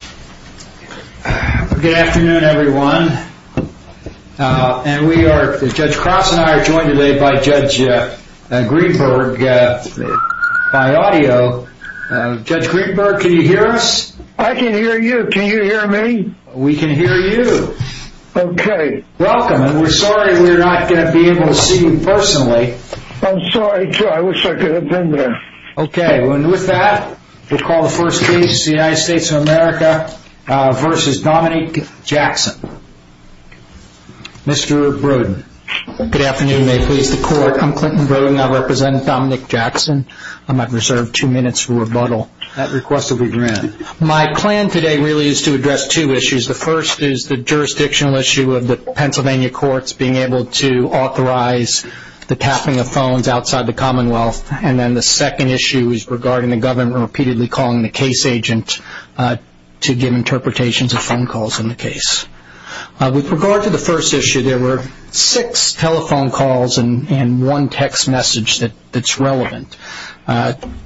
Good afternoon everyone, Judge Cross and I are joined today by Judge Greenberg by audio. Judge Greenberg, can you hear us? I can hear you. Can you hear me? We can hear you. Okay. Welcome, and we're sorry we're not going to be able to see you personally. I'm sorry too. I wish I could have been there. Okay, and with that, we'll call the first case, United States of America v. Dominic Jackson. Mr. Brodin. Good afternoon. May it please the Court. I'm Clinton Brodin. I represent Dominic Jackson. I might reserve two minutes for rebuttal. That request will be granted. My plan today really is to address two issues. The first is the jurisdictional issue of the Pennsylvania courts being able to authorize the tapping of phones outside the Commonwealth. And then the second issue is regarding the government repeatedly calling the case agent to give interpretations of phone calls in the case. With regard to the first issue, there were six telephone calls and one text message that's relevant.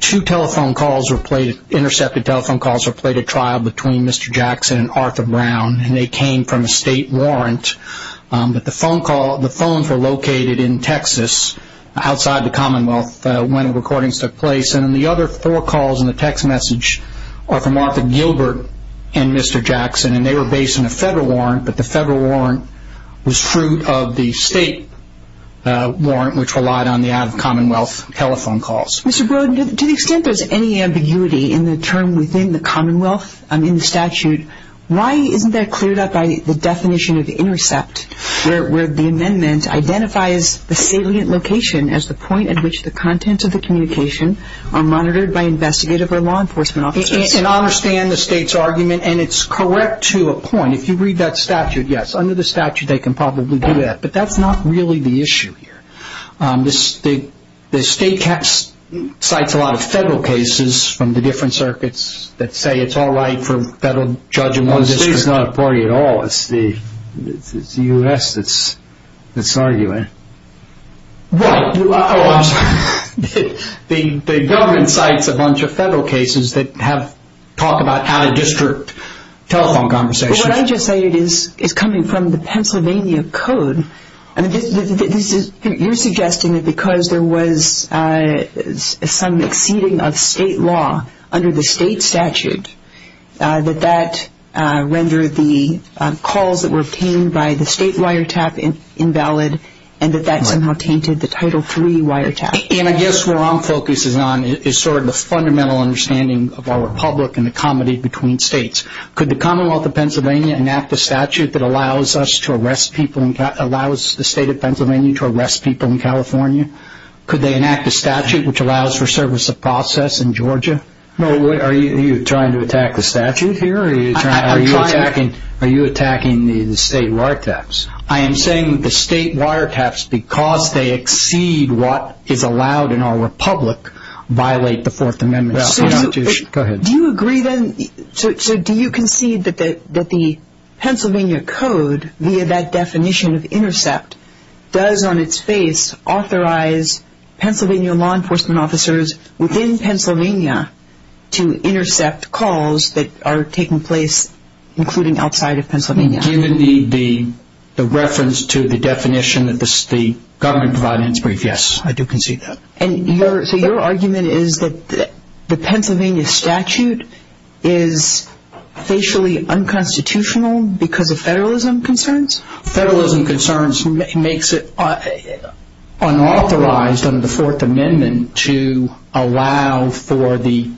Two telephone calls were played, intercepted telephone calls were played at trial between Mr. Jackson and Arthur Brown, and they came from a state warrant. But the phones were located in Texas outside the Commonwealth when the recordings took place. And then the other four calls in the text message are from Arthur Gilbert and Mr. Jackson, and they were based on a federal warrant, but the federal warrant was fruit of the state warrant, which relied on the out-of-Commonwealth telephone calls. Mr. Brodin, to the extent there's any ambiguity in the term within the Commonwealth in the statute, why isn't that cleared up by the definition of intercept, where the amendment identifies the salient location as the point at which the contents of the communication are monitored by investigative or law enforcement officers? I understand the state's argument, and it's correct to a point. If you read that statute, yes, under the statute they can probably do that, but that's not really the issue here. Tom, the state cites a lot of federal cases from the different circuits that say it's all right for a federal judge in one district. The state's not a party at all. It's the U.S. that's arguing it. Right. Oh, I'm sorry. The government cites a bunch of federal cases that talk about out-of-district telephone conversations. What I just cited is coming from the Pennsylvania Code. You're suggesting that because there was some exceeding of state law under the state statute, that that rendered the calls that were obtained by the state wiretap invalid, and that that somehow tainted the Title III wiretap? And I guess where our focus is on is sort of the fundamental understanding of our Republic and the comedy between states. Could the Commonwealth of Pennsylvania enact a statute that allows the state of Pennsylvania to arrest people in California? Could they enact a statute which allows for service of process in Georgia? Are you trying to attack the statute here, or are you attacking the state wiretaps? I am saying that the state wiretaps, because they exceed what is allowed in our Republic, violate the Fourth Amendment Constitution. Go ahead. Do you agree, then? So do you concede that the Pennsylvania Code, via that definition of intercept, does on its face authorize Pennsylvania law enforcement officers within Pennsylvania to intercept calls that are taking place including outside of Pennsylvania? Given the reference to the definition that the government provided in its brief, yes, I do concede that. So your argument is that the Pennsylvania statute is facially unconstitutional because of federalism concerns? Federalism concerns makes it unauthorized under the Fourth Amendment to allow for the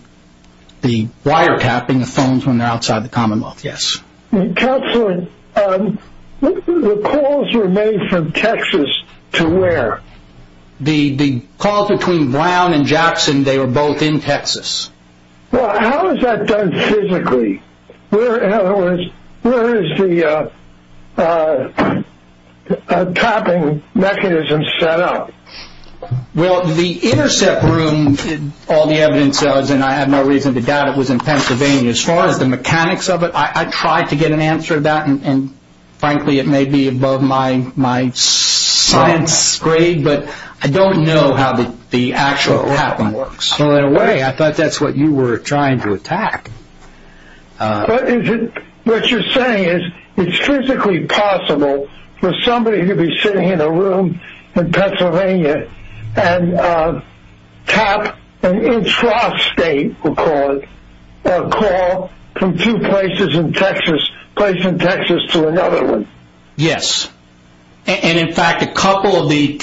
wiretapping of phones when they're outside the Commonwealth, yes. Counselor, the calls were made from Texas to where? The calls between Brown and Jackson, they were both in Texas. Well, how is that done physically? Where is the tapping mechanism set up? Well, the intercept room, all the evidence says, and I have no reason to doubt it, was in Pennsylvania. As far as the mechanics of it, I tried to get an answer to that, and frankly, it may be above my science grade, but I don't know how the actual tapping works. Well, in a way, I thought that's what you were trying to attack. What you're saying is it's physically possible for somebody to be sitting in a room in Pennsylvania and tap an intrastate, we'll call it, or call from two places in Texas, a place in Texas to another one. Yes, and in fact, a couple of the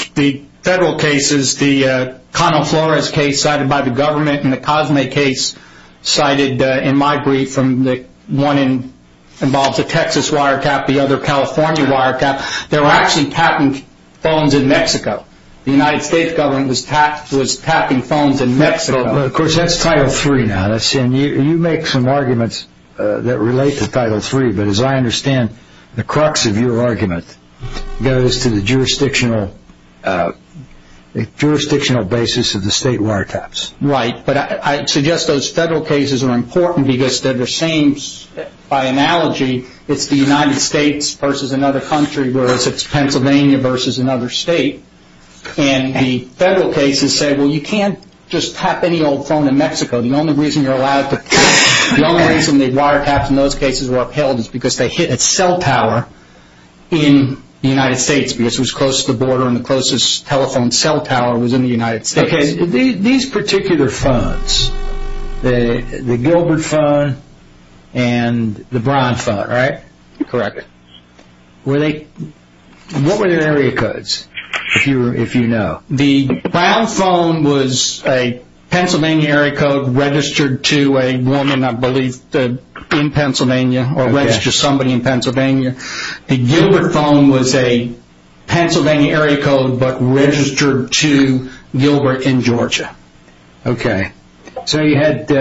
federal cases, the Connell Flores case cited by the government and the Cosme case cited in my brief, one involves a Texas wiretap, the other a California wiretap, they were actually tapping phones in Mexico. The United States government was tapping phones in Mexico. Well, of course, that's Title III now, and you make some arguments that relate to Title III, but as I understand, the crux of your argument goes to the jurisdictional basis of the state wiretaps. Right, but I suggest those federal cases are important because they're the same, by analogy, it's the United States versus another country, whereas it's Pennsylvania versus another state, and the federal cases say, well, you can't just tap any old phone in Mexico. The only reason you're allowed to tap, the only reason the wiretaps in those cases were upheld is because they hit at cell power in the United States because it was close to the border and the closest telephone cell power was in the United States. Okay, these particular phones, the Gilbert phone and the Brown phone, right? Correct. What were their area codes, if you know? The Brown phone was a Pennsylvania area code registered to a woman, I believe, in Pennsylvania, or registered to somebody in Pennsylvania. The Gilbert phone was a Pennsylvania area code, but registered to Gilbert in Georgia. Okay, so you had,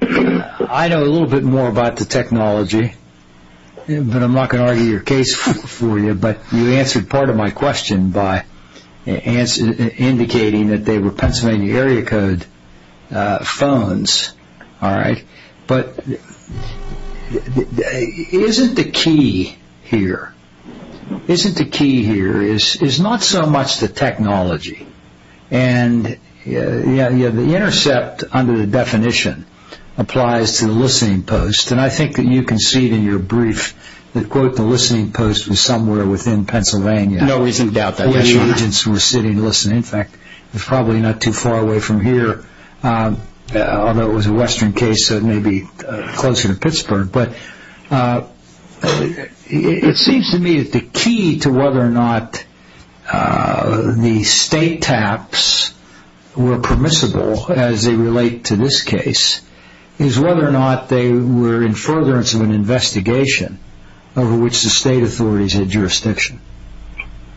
I know a little bit more about the technology, but I'm not going to argue your case for you, but you answered part of my question by indicating that they were Pennsylvania area code phones. But isn't the key here, isn't the key here, is not so much the technology, and the intercept under the definition applies to the listening post, and I think that you can see it in your brief that, quote, the listening post was somewhere within Pennsylvania where the agents were sitting listening. In fact, it's probably not too far away from here, although it was a western case, so it may be closer to Pittsburgh. But it seems to me that the key to whether or not the state taps were permissible, as they relate to this case, is whether or not they were in furtherance of an investigation over which the state authorities had jurisdiction.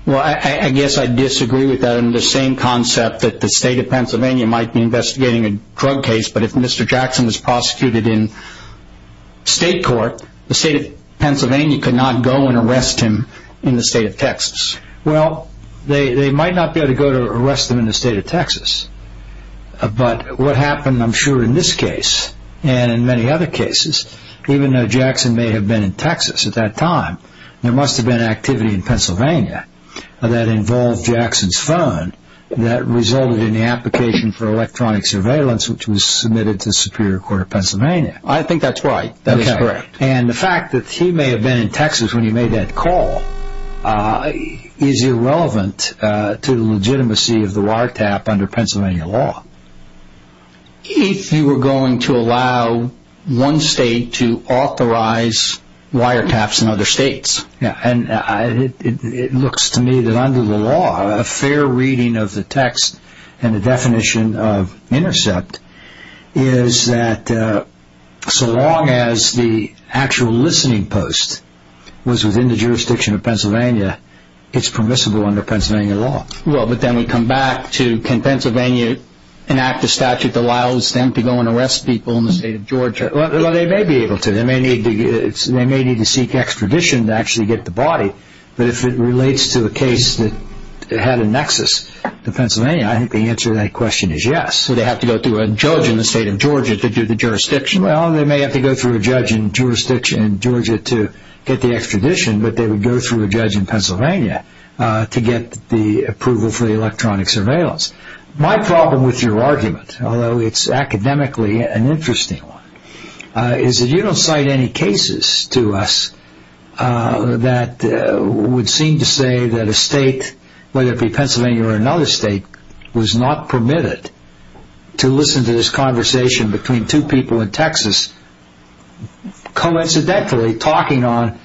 Well, I guess I disagree with that. that the state of Pennsylvania might be investigating a drug case, but if Mr. Jackson was prosecuted in state court, the state of Pennsylvania could not go and arrest him in the state of Texas. Well, they might not be able to go to arrest him in the state of Texas, but what happened, I'm sure, in this case and in many other cases, even though Jackson may have been in Texas at that time, there must have been activity in Pennsylvania that involved Jackson's phone that resulted in the application for electronic surveillance, which was submitted to the Superior Court of Pennsylvania. I think that's right. That is correct. And the fact that he may have been in Texas when he made that call is irrelevant to the legitimacy of the wiretap under Pennsylvania law. If you were going to allow one state to authorize wiretaps in other states. Yeah, and it looks to me that under the law, a fair reading of the text and the definition of intercept is that so long as the actual listening post was within the jurisdiction of Pennsylvania, it's permissible under Pennsylvania law. Well, but then we come back to can Pennsylvania enact a statute that allows them to go and arrest people in the state of Georgia? Well, they may be able to. They may need to seek extradition to actually get the body, but if it relates to a case that had a nexus to Pennsylvania, I think the answer to that question is yes. So they have to go through a judge in the state of Georgia to do the jurisdiction? Well, they may have to go through a judge in Georgia to get the extradition, but they would go through a judge in Pennsylvania to get the approval for the electronic surveillance. My problem with your argument, although it's academically an interesting one, is that you don't cite any cases to us that would seem to say that a state, whether it be Pennsylvania or another state, was not permitted to listen to this conversation between two people in Texas coincidentally talking on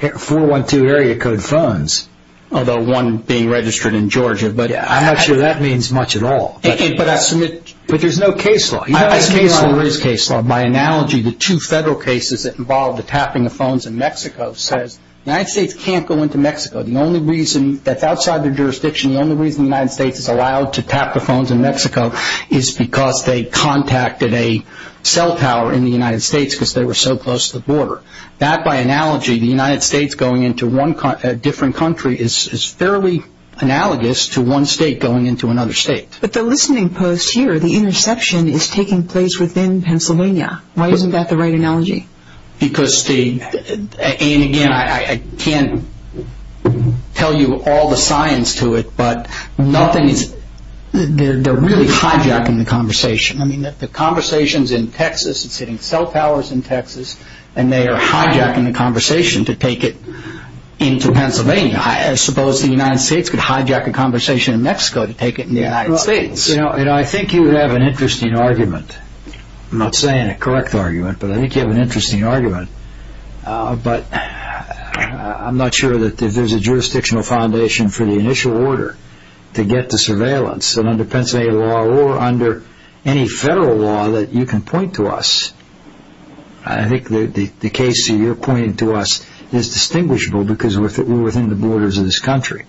412 area code phones, although one being registered in Georgia. But I'm not sure that means much at all. But there's no case law. There is case law. By analogy, the two federal cases that involved the tapping of phones in Mexico says the United States can't go into Mexico. The only reason that's outside their jurisdiction, the only reason the United States is allowed to tap the phones in Mexico is because they contacted a cell tower in the United States because they were so close to the border. That, by analogy, the United States going into a different country is fairly analogous to one state going into another state. But the listening post here, the interception, is taking place within Pennsylvania. Why isn't that the right analogy? Because the – and, again, I can't tell you all the science to it, but nothing is – they're really hijacking the conversation. The conversation is in Texas. It's hitting cell towers in Texas, and they are hijacking the conversation to take it into Pennsylvania. I suppose the United States could hijack a conversation in Mexico to take it in the United States. I think you have an interesting argument. I'm not saying a correct argument, but I think you have an interesting argument. But I'm not sure that there's a jurisdictional foundation for the initial order to get to surveillance that under Pennsylvania law or under any federal law that you can point to us. I think the case that you're pointing to us is distinguishable because we're within the borders of this country.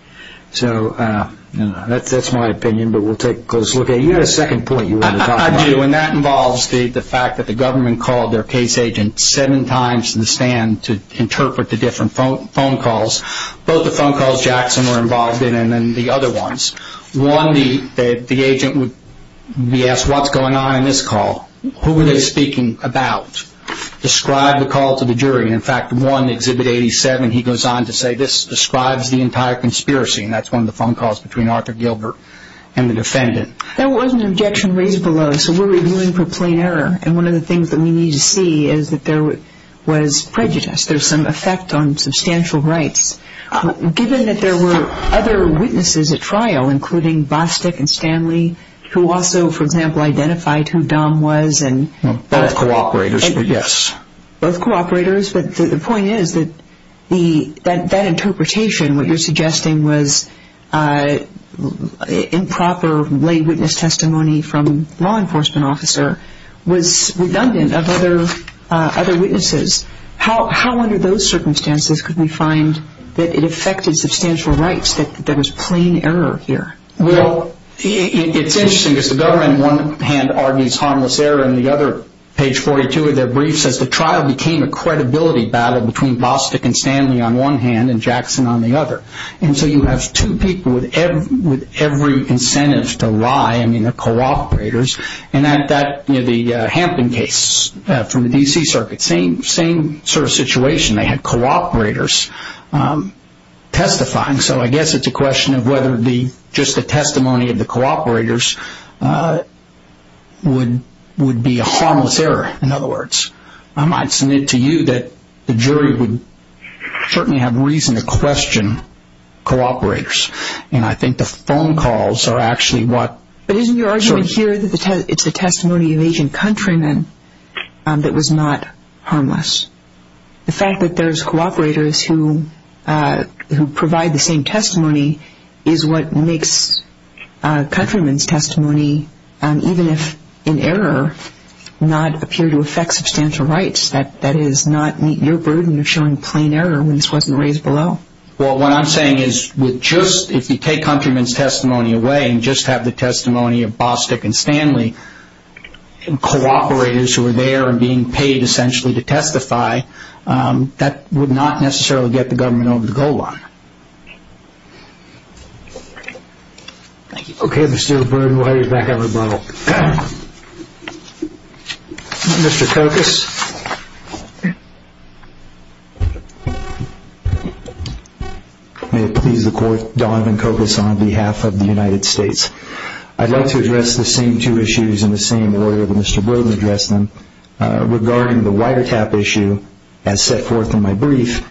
So that's my opinion, but we'll take a close look at it. You had a second point you wanted to talk about. I do, and that involves the fact that the government called their case agent seven times in the stand to interpret the different phone calls. Both the phone calls Jackson were involved in and then the other ones. One, the agent would be asked, what's going on in this call? Who were they speaking about? Describe the call to the jury. In fact, one, Exhibit 87, he goes on to say, this describes the entire conspiracy, and that's one of the phone calls between Arthur Gilbert and the defendant. There was an objection raised below, so we're reviewing for plain error, and one of the things that we need to see is that there was prejudice. There's some effect on substantial rights. Given that there were other witnesses at trial, including Bostic and Stanley, who also, for example, identified who Dom was. Both co-operators, yes. Both co-operators, but the point is that that interpretation, what you're suggesting was improper lay witness testimony from a law enforcement officer, was redundant of other witnesses. How, under those circumstances, could we find that it affected substantial rights that there was plain error here? Well, it's interesting because the government, in one hand, argues harmless error, and the other, page 42 of their brief says, the trial became a credibility battle between Bostic and Stanley on one hand and Jackson on the other. And so you have two people with every incentive to lie. I mean, they're co-operators. The Hampton case from the D.C. Circuit, same sort of situation. They had co-operators testifying, so I guess it's a question of whether just the testimony of the co-operators would be a harmless error, in other words. I might submit to you that the jury would certainly have reason to question co-operators, and I think the phone calls are actually what sort of. But isn't your argument here that it's the testimony of Agent Countryman that was not harmless? The fact that there's co-operators who provide the same testimony is what makes Countryman's testimony, even if in error, not appear to affect substantial rights. That is, not meet your burden of showing plain error when this wasn't raised below. Well, what I'm saying is, if you take Countryman's testimony away and just have the testimony of Bostick and Stanley, co-operators who are there and being paid essentially to testify, that would not necessarily get the government over the goal line. Okay, Mr. O'Byrne, while you're back at rebuttal. Mr. Kokos. May it please the Court, Donovan Kokos on behalf of the United States. I'd like to address the same two issues in the same order that Mr. Brogan addressed them. Regarding the wiretap issue, as set forth in my brief,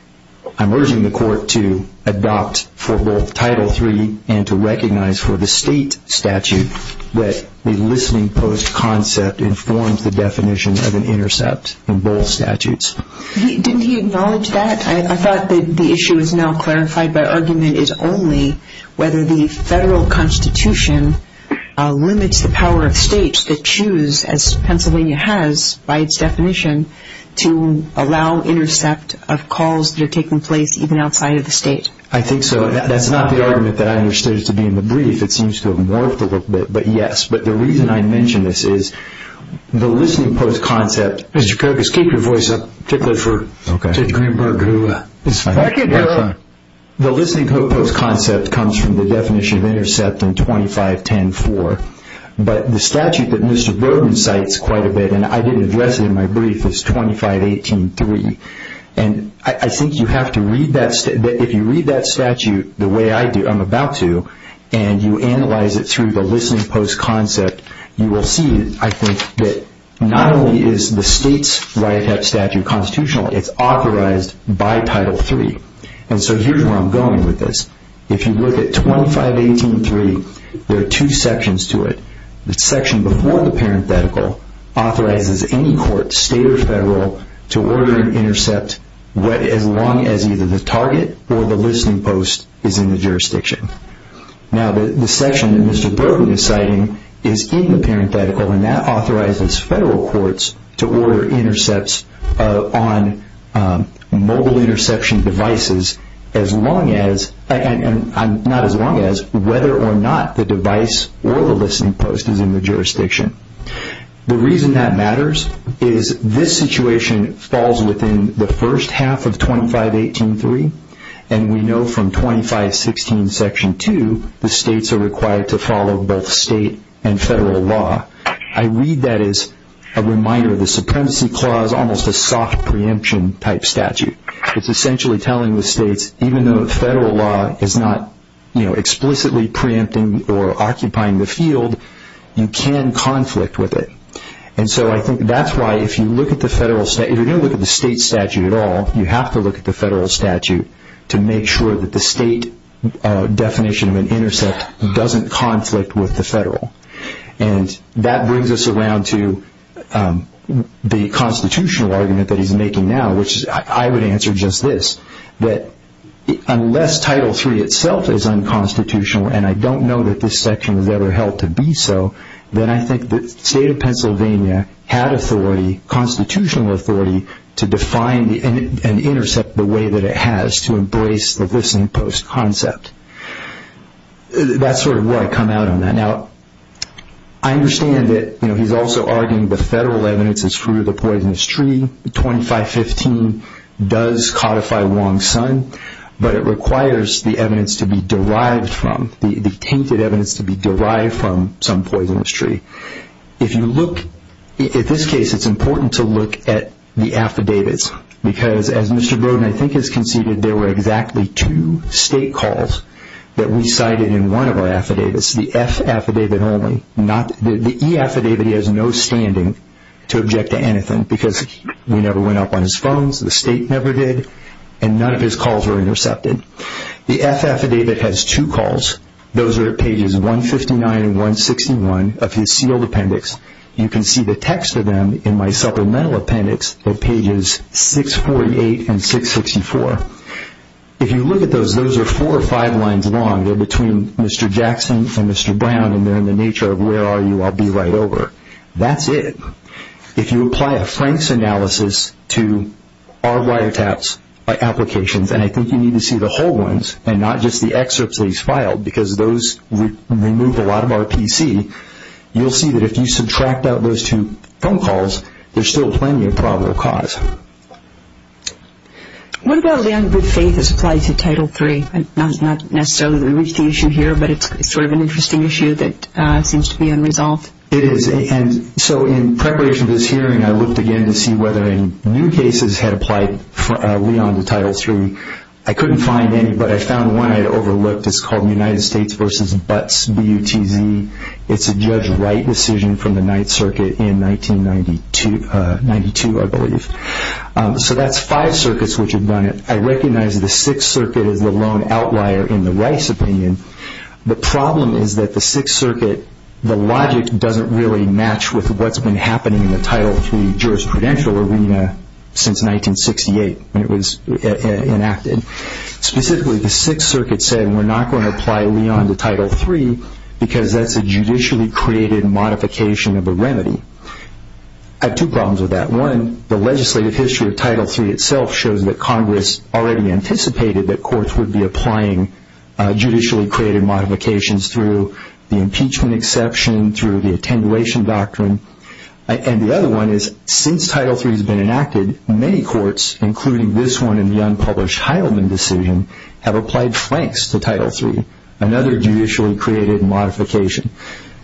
I'm urging the Court to adopt for both Title III and to recognize for the state statute that the listening post concept informs the definition of an intercept. Didn't he acknowledge that? I thought that the issue is now clarified by argument is only whether the federal constitution limits the power of states to choose, as Pennsylvania has by its definition, to allow intercept of calls that are taking place even outside of the state. I think so. That's not the argument that I understood to be in the brief. It seems to have morphed a little bit, but yes. The reason I mention this is the listening post concept. Mr. Kokos, keep your voice up, particularly for Judge Greenberg. The listening post concept comes from the definition of intercept in 2510-4, but the statute that Mr. Brogan cites quite a bit, and I did address it in my brief, is 2518-3. I think you have to read that statute the way I'm about to, and you analyze it through the listening post concept. You will see, I think, that not only is the state's write-up statute constitutional, it's authorized by Title III, and so here's where I'm going with this. If you look at 2518-3, there are two sections to it. The section before the parenthetical authorizes any court, state or federal, to order an intercept as long as either the target or the listening post is in the jurisdiction. Now, the section that Mr. Brogan is citing is in the parenthetical, and that authorizes federal courts to order intercepts on mobile interception devices whether or not the device or the listening post is in the jurisdiction. The reason that matters is this situation falls within the first half of 2518-3, and we know from 2516-2 the states are required to follow both state and federal law. I read that as a reminder of the Supremacy Clause, almost a soft preemption type statute. It's essentially telling the states even though the federal law is not explicitly preempting or occupying the field, you can conflict with it. I think that's why if you're going to look at the state statute at all, you have to look at the federal statute to make sure that the state definition of an intercept doesn't conflict with the federal. That brings us around to the constitutional argument that he's making now, which I would answer just this, that unless Title III itself is unconstitutional, and I don't know that this section was ever held to be so, then I think the state of Pennsylvania had constitutional authority to define and intercept the way that it has to embrace the listening post concept. That's sort of where I come out on that. Now, I understand that he's also arguing the federal evidence is true of the poisonous tree. 2515 does codify Wong's son, but it requires the evidence to be derived from, the tainted evidence to be derived from some poisonous tree. If you look at this case, it's important to look at the affidavits, because as Mr. Brodin I think has conceded, there were exactly two state calls that we cited in one of our affidavits, the F affidavit only. The E affidavit he has no standing to object to anything because we never went up on his phones, the state never did, and none of his calls were intercepted. The F affidavit has two calls. Those are at pages 159 and 161 of his sealed appendix. You can see the text of them in my supplemental appendix at pages 648 and 664. If you look at those, those are four or five lines long. They're between Mr. Jackson and Mr. Brown, and they're in the nature of where are you, I'll be right over. That's it. If you apply a Frank's analysis to our wiretaps applications, and I think you need to see the whole ones and not just the excerpts that he's filed, because those remove a lot of RPC, you'll see that if you subtract out those two phone calls, there's still plenty of probable cause. What about the ungood faith as applied to Title III? Not necessarily that we reach the issue here, but it's sort of an interesting issue that seems to be unresolved. It is, and so in preparation for this hearing, I looked again to see whether any new cases had applied early on to Title III. I couldn't find any, but I found one I had overlooked. It's called the United States v. Butts, B-U-T-Z. It's a Judge Wright decision from the Ninth Circuit in 1992, I believe. So that's five circuits which have done it. I recognize the Sixth Circuit is the lone outlier in the Weiss opinion. The problem is that the Sixth Circuit, the logic doesn't really match with what's been happening in the Title III jurisprudential arena since 1968 when it was enacted. Specifically, the Sixth Circuit said, we're not going to apply early on to Title III because that's a judicially created modification of a remedy. I have two problems with that. One, the legislative history of Title III itself shows that Congress already anticipated that courts would be applying judicially created modifications through the impeachment exception, through the attenuation doctrine. And the other one is since Title III has been enacted, many courts, including this one in the unpublished Heilman decision, have applied flanks to Title III, another judicially created modification.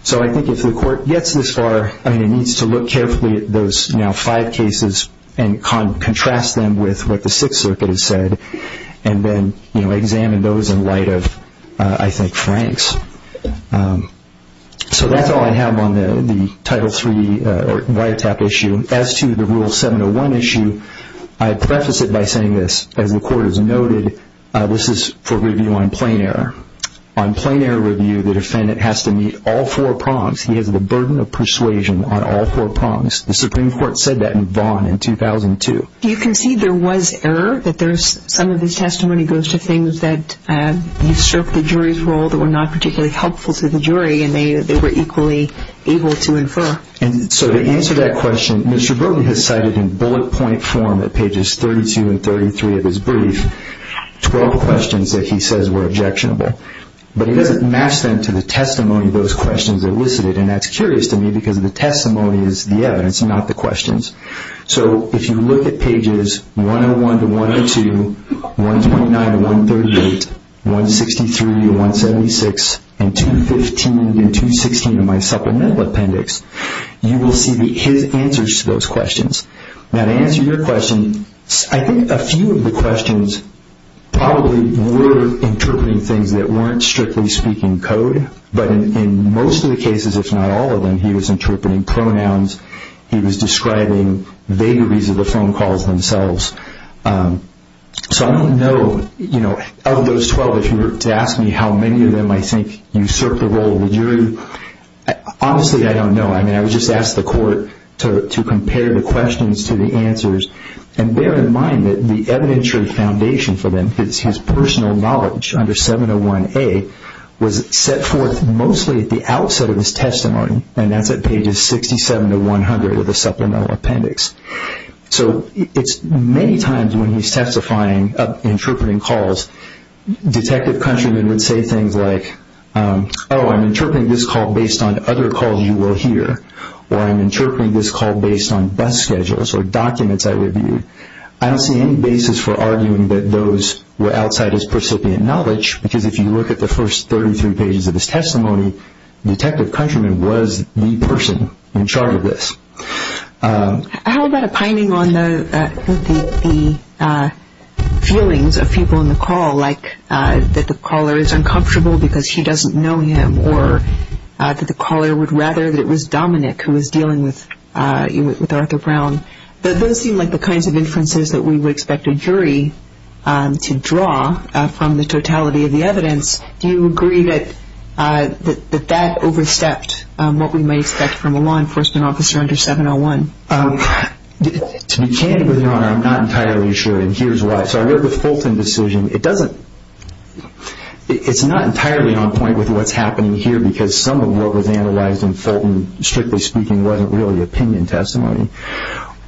So I think if the court gets this far, it needs to look carefully at those now five cases and contrast them with what the Sixth Circuit has said and then examine those in light of, I think, flanks. So that's all I have on the Title III wiretap issue. As to the Rule 701 issue, I preface it by saying this. As the court has noted, this is for review on plain error. On plain error review, the defendant has to meet all four prongs. He has the burden of persuasion on all four prongs. The Supreme Court said that in Vaughan in 2002. Do you concede there was error, that some of his testimony goes to things that have served the jury's role that were not particularly helpful to the jury and they were equally able to infer? So to answer that question, Mr. Brogan has cited in bullet point form at pages 32 and 33 of his brief 12 questions that he says were objectionable. But he doesn't match them to the testimony of those questions elicited, and that's curious to me because the testimony is the evidence, not the questions. So if you look at pages 101 to 102, 129 to 138, 163 to 176, and 215 and 216 of my supplemental appendix, you will see his answers to those questions. Now to answer your question, I think a few of the questions probably were interpreting things that weren't strictly speaking code, but in most of the cases, if not all of them, he was interpreting pronouns. He was describing vagaries of the phone calls themselves. So I don't know, of those 12, if you were to ask me how many of them I think usurped the role of the jury, honestly, I don't know. I mean, I would just ask the court to compare the questions to the answers. And bear in mind that the evidentiary foundation for them, his personal knowledge under 701A was set forth mostly at the outset of his testimony, and that's at pages 67 to 100 of the supplemental appendix. So it's many times when he's testifying, interpreting calls, detective countrymen would say things like, oh, I'm interpreting this call based on other calls you will hear, or I'm interpreting this call based on bus schedules or documents I reviewed. I don't see any basis for arguing that those were outside his precipient knowledge, because if you look at the first 33 pages of his testimony, detective countrymen was the person in charge of this. How about a pining on the feelings of people in the call, like that the caller is uncomfortable because she doesn't know him, or that the caller would rather that it was Dominic who was dealing with Arthur Brown. Those seem like the kinds of inferences that we would expect a jury to draw from the totality of the evidence. Do you agree that that overstepped what we might expect from a law enforcement officer under 701? To be candid with you, Your Honor, I'm not entirely sure, and here's why. So I worked with Fulton's decision. It's not entirely on point with what's happening here, because some of what was analyzed in Fulton, strictly speaking, wasn't really opinion testimony.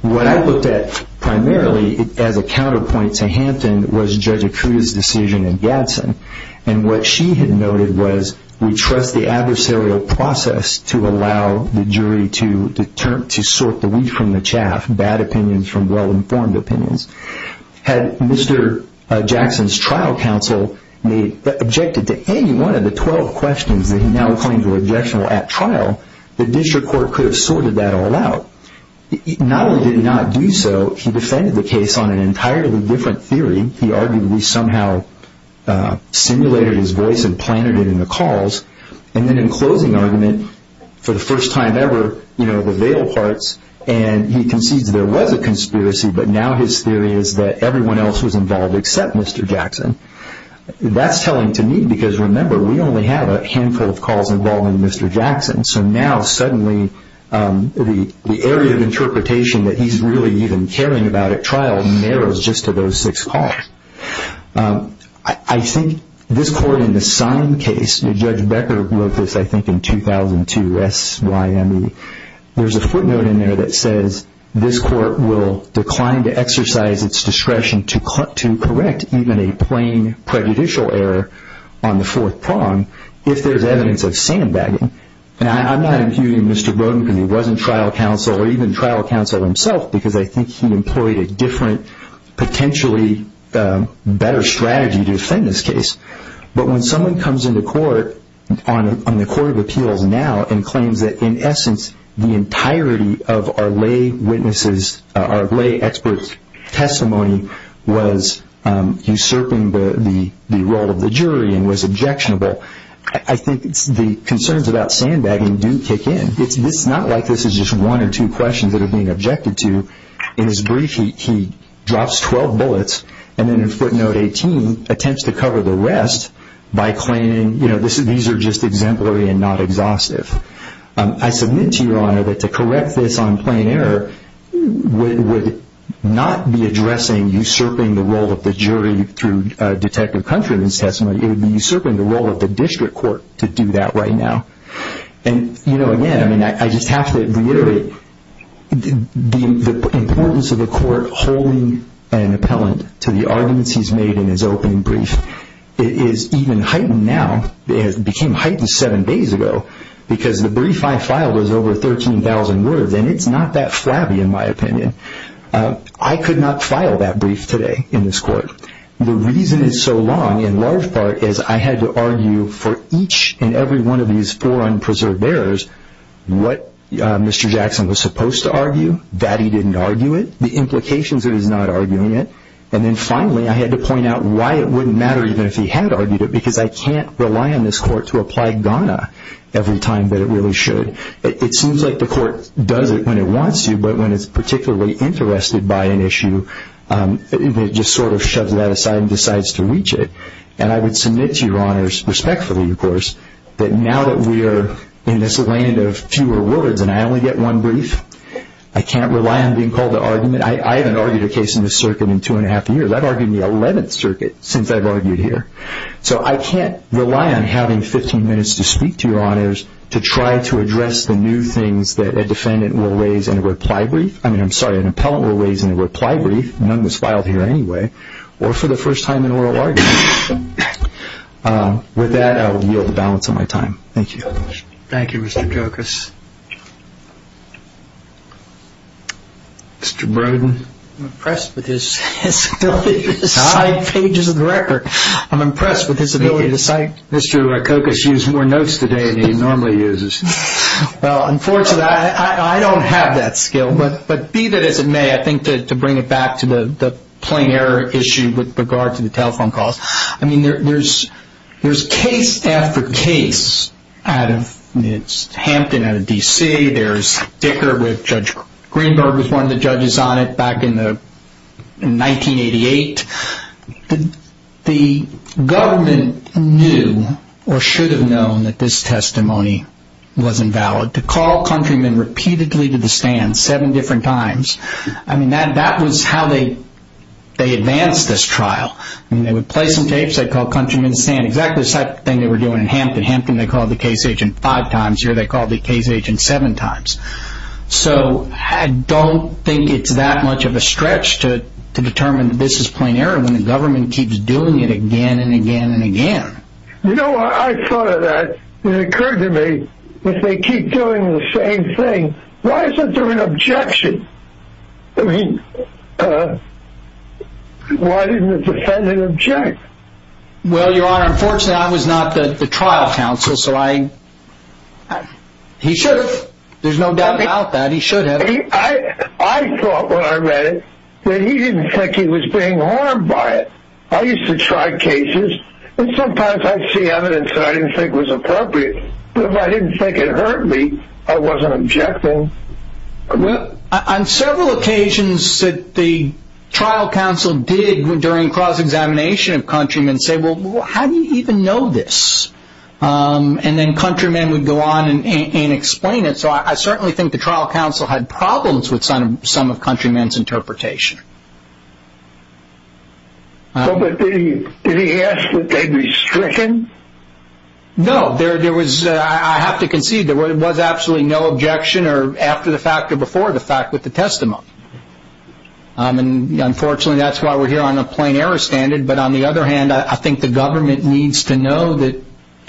What I looked at primarily as a counterpoint to Hampton was Judge Acuda's decision in Gadsden, and what she had noted was we trust the adversarial process to allow the jury to sort the weed from the chaff, bad opinions from well-informed opinions. Had Mr. Jackson's trial counsel objected to any one of the 12 questions that he now claims were objectionable at trial, the district court could have sorted that all out. Not only did he not do so, he defended the case on an entirely different theory. He argued that we somehow simulated his voice and planted it in the calls, and then in closing argument, for the first time ever, the veil parts, and he concedes there was a conspiracy, but now his theory is that everyone else was involved except Mr. Jackson. That's telling to me, because remember, we only have a handful of calls involving Mr. Jackson, so now suddenly the area of interpretation that he's really even caring about at trial narrows just to those six calls. I think this court in the Sine case, Judge Becker wrote this, I think, in 2002, S-Y-M-E. There's a footnote in there that says, this court will decline to exercise its discretion to correct even a plain prejudicial error on the fourth prong if there's evidence of sandbagging. I'm not accusing Mr. Brodin because he wasn't trial counsel or even trial counsel himself, because I think he employed a different, potentially better strategy to defend this case. But when someone comes into court on the Court of Appeals now and claims that, in essence, the entirety of our lay expert's testimony was usurping the role of the jury and was objectionable, I think the concerns about sandbagging do kick in. It's not like this is just one or two questions that are being objected to. In his brief, he drops 12 bullets, and then in footnote 18, he attempts to cover the rest by claiming these are just exemplary and not exhaustive. I submit to Your Honor that to correct this on plain error would not be addressing usurping the role of the jury through Detective Country in his testimony. It would be usurping the role of the district court to do that right now. Again, I just have to reiterate the importance of the court holding an appellant to the arguments he's made in his opening brief. It is even heightened now. It became heightened seven days ago because the brief I filed was over 13,000 words, and it's not that flabby, in my opinion. I could not file that brief today in this court. The reason it's so long, in large part, is I had to argue for each and every one of these four unpreserved errors what Mr. Jackson was supposed to argue, that he didn't argue it, the implications of his not arguing it, and then finally I had to point out why it wouldn't matter even if he had argued it because I can't rely on this court to apply Ghana every time that it really should. It seems like the court does it when it wants to, but when it's particularly interested by an issue, it just sort of shoves that aside and decides to reach it. And I would submit to Your Honors, respectfully, of course, that now that we are in this land of fewer words and I only get one brief, I can't rely on being called to argument. I haven't argued a case in this circuit in two and a half years. I've argued in the 11th Circuit since I've argued here. So I can't rely on having 15 minutes to speak to Your Honors to try to address the new things that a defendant will raise in a reply brief. I mean, I'm sorry, an appellant will raise in a reply brief. None was filed here anyway, or for the first time in oral argument. With that, I will yield the balance of my time. Thank you. Thank you, Mr. Rokokos. Mr. Brodin. I'm impressed with his ability to cite pages of the record. I'm impressed with his ability to cite. Mr. Rokokos used more notes today than he normally uses. Well, unfortunately, I don't have that skill, but be that as it may, I think to bring it back to the plain error issue with regard to the telephone calls, I mean, there's case after case. It's Hampton out of D.C. There's Dicker with Judge Greenberg was one of the judges on it back in 1988. The government knew or should have known that this testimony was invalid. To call countrymen repeatedly to the stand seven different times, I mean, that was how they advanced this trial. I mean, they would play some tapes. They'd call countrymen to stand. Exactly the same thing they were doing in Hampton. Hampton, they called the case agent five times. Here, they called the case agent seven times. So I don't think it's that much of a stretch to determine that this is plain error when the government keeps doing it again and again and again. You know, I thought of that. It occurred to me, if they keep doing the same thing, why isn't there an objection? I mean, why didn't the defendant object? Well, Your Honor, unfortunately, I was not the trial counsel, so he should have. There's no doubt about that. He should have. I thought when I read it that he didn't think he was being harmed by it. I used to try cases, and sometimes I'd see evidence that I didn't think was appropriate. But if I didn't think it hurt me, I wasn't objecting. Well, on several occasions, the trial counsel did, during cross-examination of countrymen, say, well, how do you even know this? And then countrymen would go on and explain it. So I certainly think the trial counsel had problems with some of countrymen's interpretation. But did he ask that they be stricken? No. I have to concede there was absolutely no objection after the fact or before the fact with the testimony. Unfortunately, that's why we're here on a plain error standard. But on the other hand, I think the government needs to know that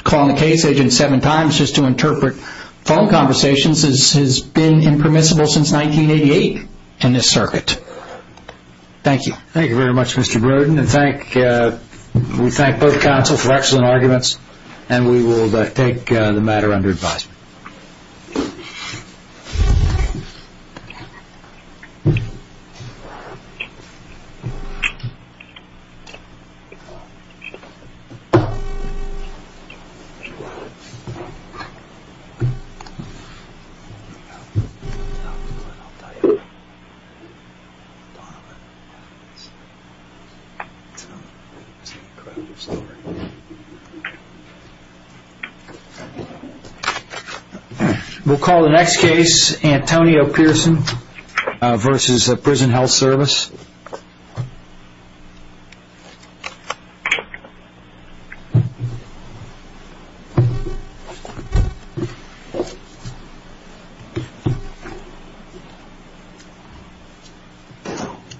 calling the case agent seven times just to interpret phone conversations has been impermissible since 1988 in this circuit. Thank you. Thank you very much, Mr. Brodin. We thank both counsel for excellent arguments, and we will take the matter under advisement. It's an incredible story. We'll call the next case, Antonio Pearson versus Prison Health Service.